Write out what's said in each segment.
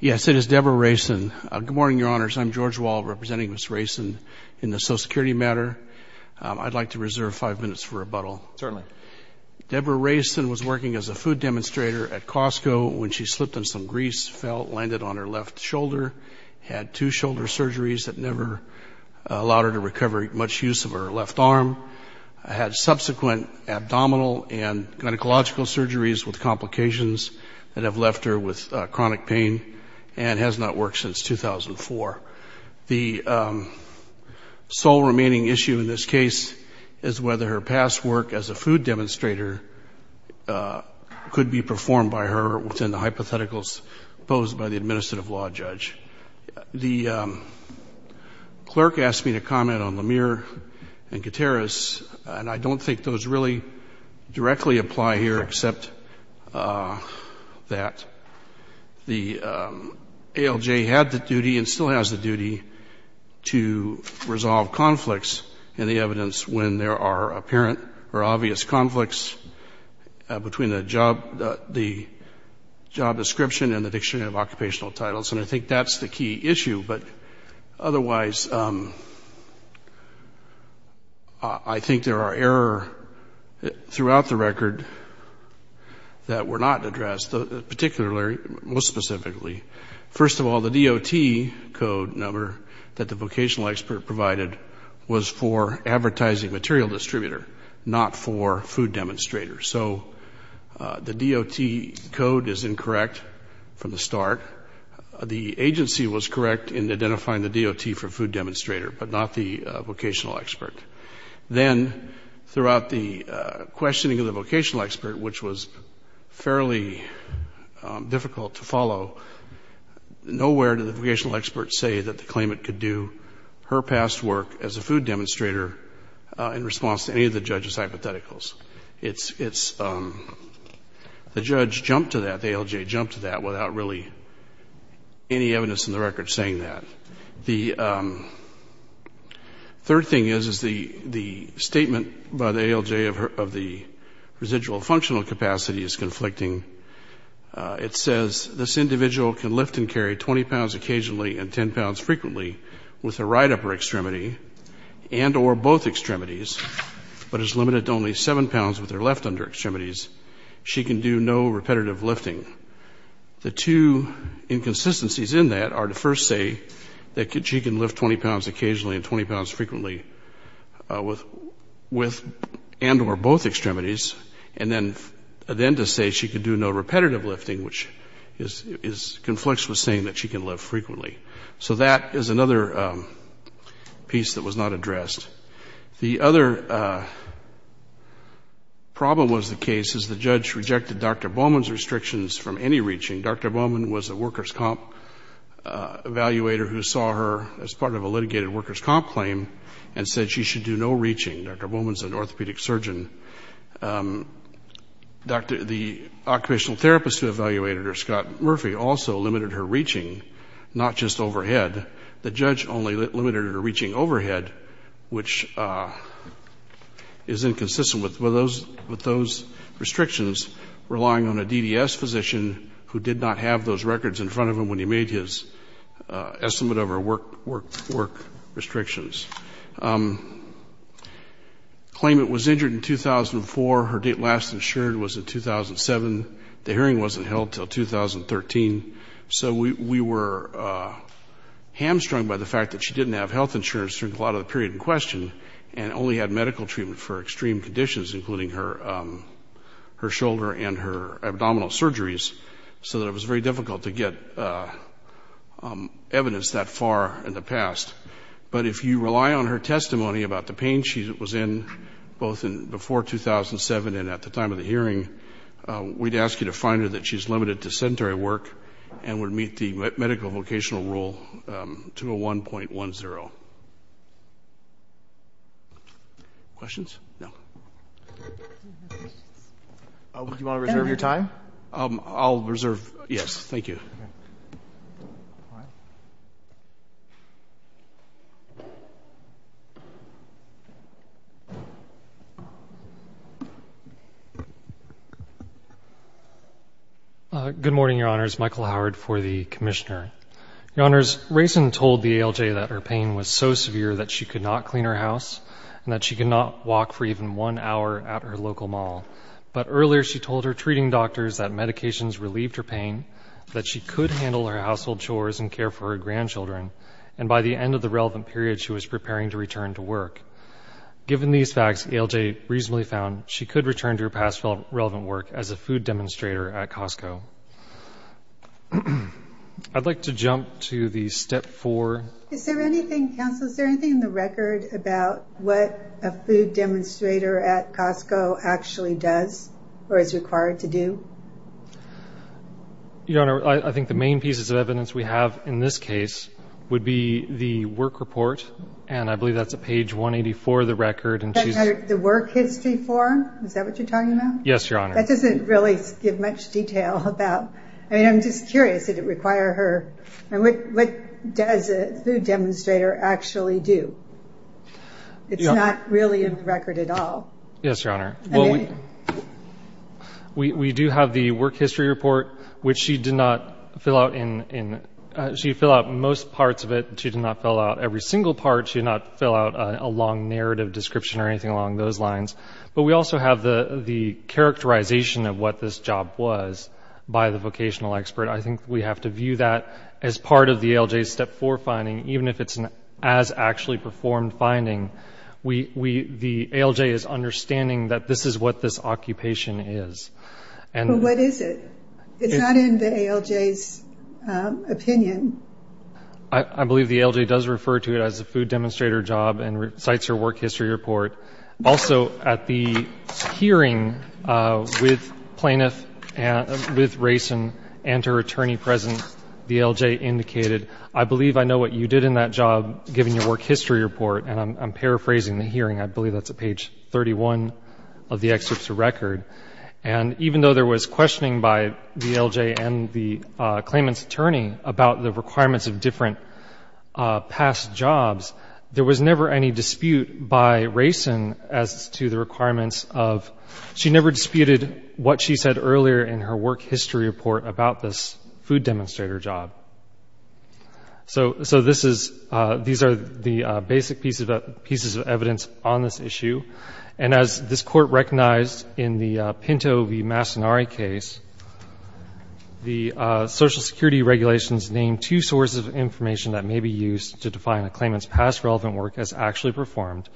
Yes, it is Debra Reysen. Good morning, Your Honors. I'm George Wall, representing Ms. Reysen in the Social Security matter. I'd like to reserve five minutes for rebuttal. Certainly. Debra Reysen was working as a food demonstrator at Costco when she slipped and some grease landed on her left shoulder, had two shoulder surgeries that never allowed her to recover much use of her left arm, had subsequent abdominal and gynecological surgeries with complications that have left her with chronic pain, and has not worked since 2004. The sole remaining issue in this case is whether her past work as a food demonstrator could be performed by her within the hypotheticals posed by the administrative law judge. The clerk asked me to comment on Lemire and Gutierrez, and I don't think those really directly apply here except that the ALJ had the duty and still has the duty to resolve conflicts in the evidence when there are apparent or obvious conflicts between the job description and the dictionary of occupational titles. And I think that's the key issue. But otherwise, I think there are errors throughout the record that were not addressed, particularly, more specifically. First of all, the DOT code number that the vocational expert provided was for advertising material distributor, not for food demonstrator. So the DOT code is incorrect from the start. The agency was correct in identifying the DOT for food demonstrator, but not the vocational expert. Then throughout the questioning of the vocational expert, which was fairly difficult to follow, nowhere did the vocational expert say that the claimant could do her past work as a food demonstrator in response to any of the judge's hypotheticals. It's the judge jumped to that, the ALJ jumped to that without really any evidence in the record saying that. The third thing is, is the statement by the ALJ of the residual functional capacity is conflicting. It says this individual can lift and carry 20 pounds occasionally and 10 pounds frequently with her right upper extremity and or both extremities, but is limited to only 7 pounds with her left under extremities. She can do no repetitive lifting. The two inconsistencies in that are to first say that she can lift 20 pounds occasionally and 20 pounds frequently with and or both extremities, and then to say she can do no repetitive lifting, which conflicts with saying that she can lift frequently. So that is another piece that was not addressed. The other problem was the case is the judge rejected Dr. Bowman's restrictions from any reaching. Dr. Bowman was a workers' comp evaluator who saw her as part of a litigated workers' comp claim and said she should do no reaching. Dr. Bowman is an orthopedic surgeon. The occupational therapist who evaluated her, Scott Murphy, also limited her reaching, not just overhead. The judge only limited her reaching overhead, which is inconsistent with those restrictions, relying on a DDS physician who did not have those records in front of him when he made his estimate of her work restrictions. The claimant was injured in 2004. Her last insurance was in 2007. The hearing wasn't held until 2013. So we were hamstrung by the fact that she didn't have health insurance during a lot of the period in question and only had medical treatment for extreme conditions, including her shoulder and her abdominal surgeries, so that it was very difficult to get evidence that far in the past. But if you rely on her testimony about the pain she was in both before 2007 and at the time of the hearing, we'd ask you to find her that she's limited to sedentary work and would meet the medical vocational rule 201.10. Questions? No. Do you want to reserve your time? I'll reserve. Yes, thank you. Good morning, Your Honors. Michael Howard for the commissioner. Your Honors, Raisin told the ALJ that her pain was so severe that she could not clean her house and that she could not walk for even one hour at her local mall. But earlier she told her treating doctors that medications relieved her pain, that she could handle her household chores and care for her grandchildren, and by the end of the relevant period she was preparing to return to work. Given these facts, the ALJ reasonably found she could return to her past relevant work as a food demonstrator at Costco. I'd like to jump to the step four. Is there anything, counsel, or is required to do? Your Honor, I think the main pieces of evidence we have in this case would be the work report, and I believe that's at page 184 of the record. The work history form? Is that what you're talking about? Yes, Your Honor. That doesn't really give much detail. I'm just curious. Did it require her? What does a food demonstrator actually do? It's not really in the record at all. Yes, Your Honor. Well, we do have the work history report, which she did not fill out. She filled out most parts of it. She did not fill out every single part. She did not fill out a long narrative description or anything along those lines. But we also have the characterization of what this job was by the vocational expert. I think we have to view that as part of the ALJ's step four finding, even if it's an as-actually-performed finding. The ALJ is understanding that this is what this occupation is. But what is it? It's not in the ALJ's opinion. I believe the ALJ does refer to it as a food demonstrator job and cites her work history report. Also, at the hearing with Reyson and her attorney present, the ALJ indicated, I believe I know what you did in that job, given your work history report. And I'm paraphrasing the hearing. I believe that's at page 31 of the excerpt to record. And even though there was questioning by the ALJ and the claimant's attorney about the requirements of different past jobs, there was never any dispute by Reyson as to the requirements of She never disputed what she said earlier in her work history report about this food demonstrator job. So these are the basic pieces of evidence on this issue. And as this Court recognized in the Pinto v. Massonari case, the Social Security regulations named two sources of information that may be used to define a claimant's past relevant work as actually performed,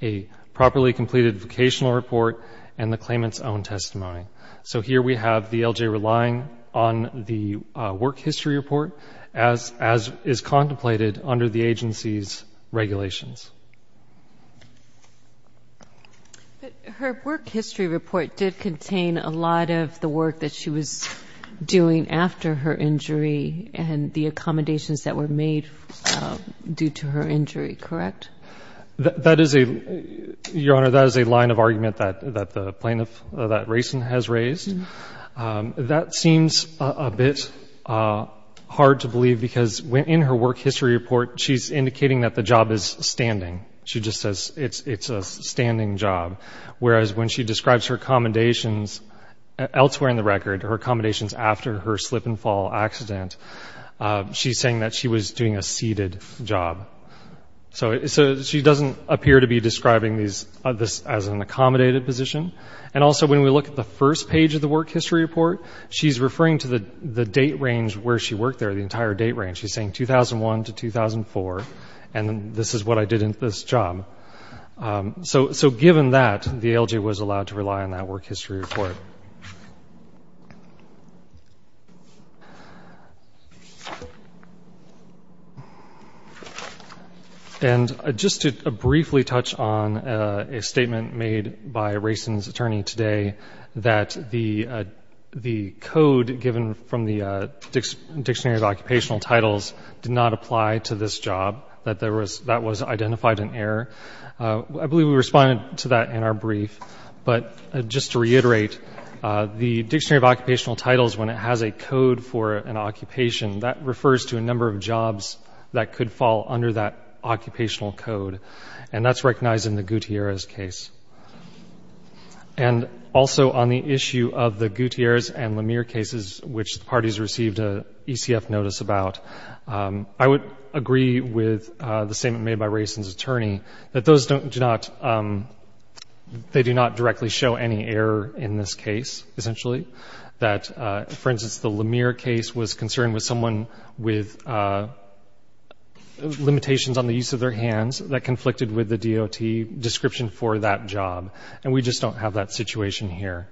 a properly completed vocational report, and the claimant's own testimony. So here we have the ALJ relying on the work history report as is contemplated under the agency's regulations. But her work history report did contain a lot of the work that she was doing after her injury and the accommodations that were made due to her injury, correct? Your Honor, that is a line of argument that the plaintiff, that Reyson has raised. That seems a bit hard to believe because in her work history report, she's indicating that the job is standing. She just says it's a standing job. Whereas when she describes her accommodations elsewhere in the record, her accommodations after her slip and fall accident, she's saying that she was doing a seated job. So she doesn't appear to be describing this as an accommodated position. And also when we look at the first page of the work history report, she's referring to the date range where she worked there, the entire date range. She's saying 2001 to 2004, and this is what I did in this job. So given that, the ALJ was allowed to rely on that work history report. And just to briefly touch on a statement made by Reyson's attorney today, that the code given from the Dictionary of Occupational Titles did not apply to this job, that that was identified an error. I believe we responded to that in our brief. But just to reiterate, the Dictionary of Occupational Titles, when it has a code for an occupation, that refers to a number of jobs that could fall under that occupational code. And that's recognized in the Gutierrez case. And also on the issue of the Gutierrez and Lemire cases, which the parties received an ECF notice about, I would agree with the statement made by Reyson's attorney that they do not directly show any error in this case, essentially. That, for instance, the Lemire case was concerned with someone with limitations on the use of their hands that conflicted with the DOT description for that job. And we just don't have that situation here.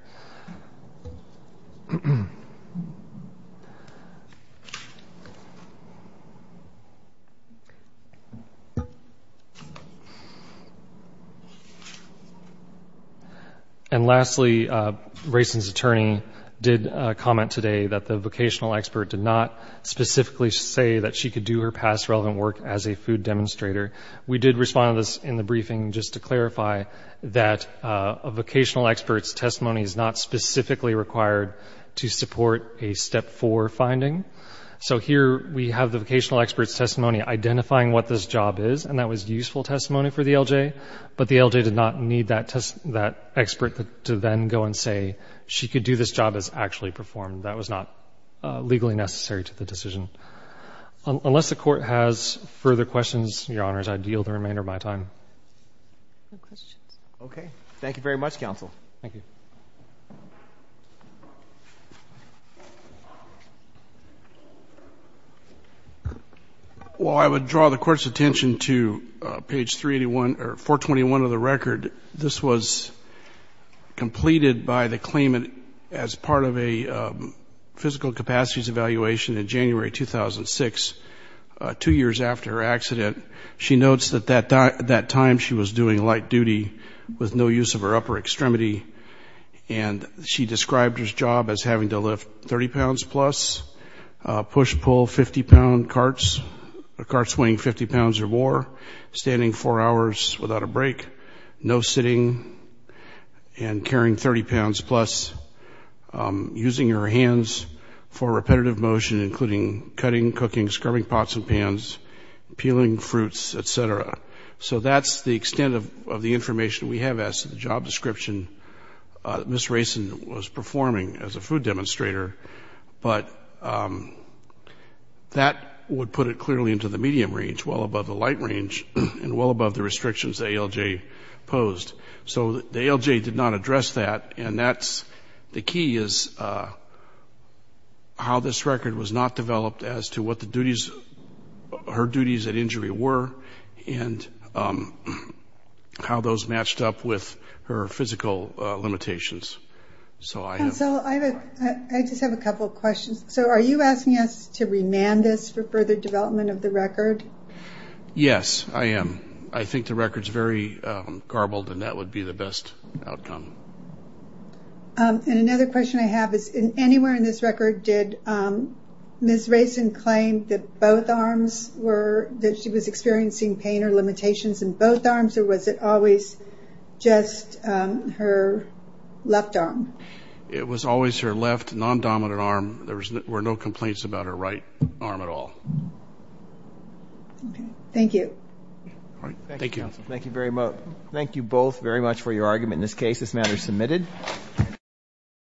And lastly, Reyson's attorney did comment today that the vocational expert did not specifically say that she could do her past relevant work as a food demonstrator. We did respond to this in the briefing just to clarify that a vocational expert's testimony is not specifically required to support a Step 4 finding. So here we have the vocational expert's testimony identifying what this job is, and that was useful testimony for the LJ, but the LJ did not need that expert to then go and say she could do this job as actually performed. That was not legally necessary to the decision. Unless the Court has further questions, Your Honors, I deal the remainder of my time. No questions. Okay. Thank you very much, counsel. Thank you. Well, I would draw the Court's attention to page 381 or 421 of the record. This was completed by the claimant as part of a physical capacities evaluation in January 2006, two years after her accident. She notes that at that time she was doing light duty with no use of her upper extremity, and she described her job as having to lift 30 pounds plus, push-pull 50-pound carts, a cart weighing 50 pounds or more, standing four hours without a break, no sitting, and carrying 30 pounds plus, using her hands for repetitive motion, including cutting, cooking, scrubbing pots and pans, peeling fruits, et cetera. So that's the extent of the information we have as to the job description that Ms. Rayson was performing as a food demonstrator, but that would put it clearly into the medium range, well above the light range, and well above the restrictions that ALJ posed. So the ALJ did not address that, and the key is how this record was not developed as to what her duties at injury were, and how those matched up with her physical limitations. So I just have a couple of questions. So are you asking us to remand this for further development of the record? Yes, I am. I think the record's very garbled, and that would be the best outcome. And another question I have is, anywhere in this record did Ms. Rayson claim that she was experiencing pain or limitations in both arms, or was it always just her left arm? It was always her left, non-dominant arm. There were no complaints about her right arm at all. Thank you. Thank you. Thank you both very much for your argument. In this case, this matter is submitted.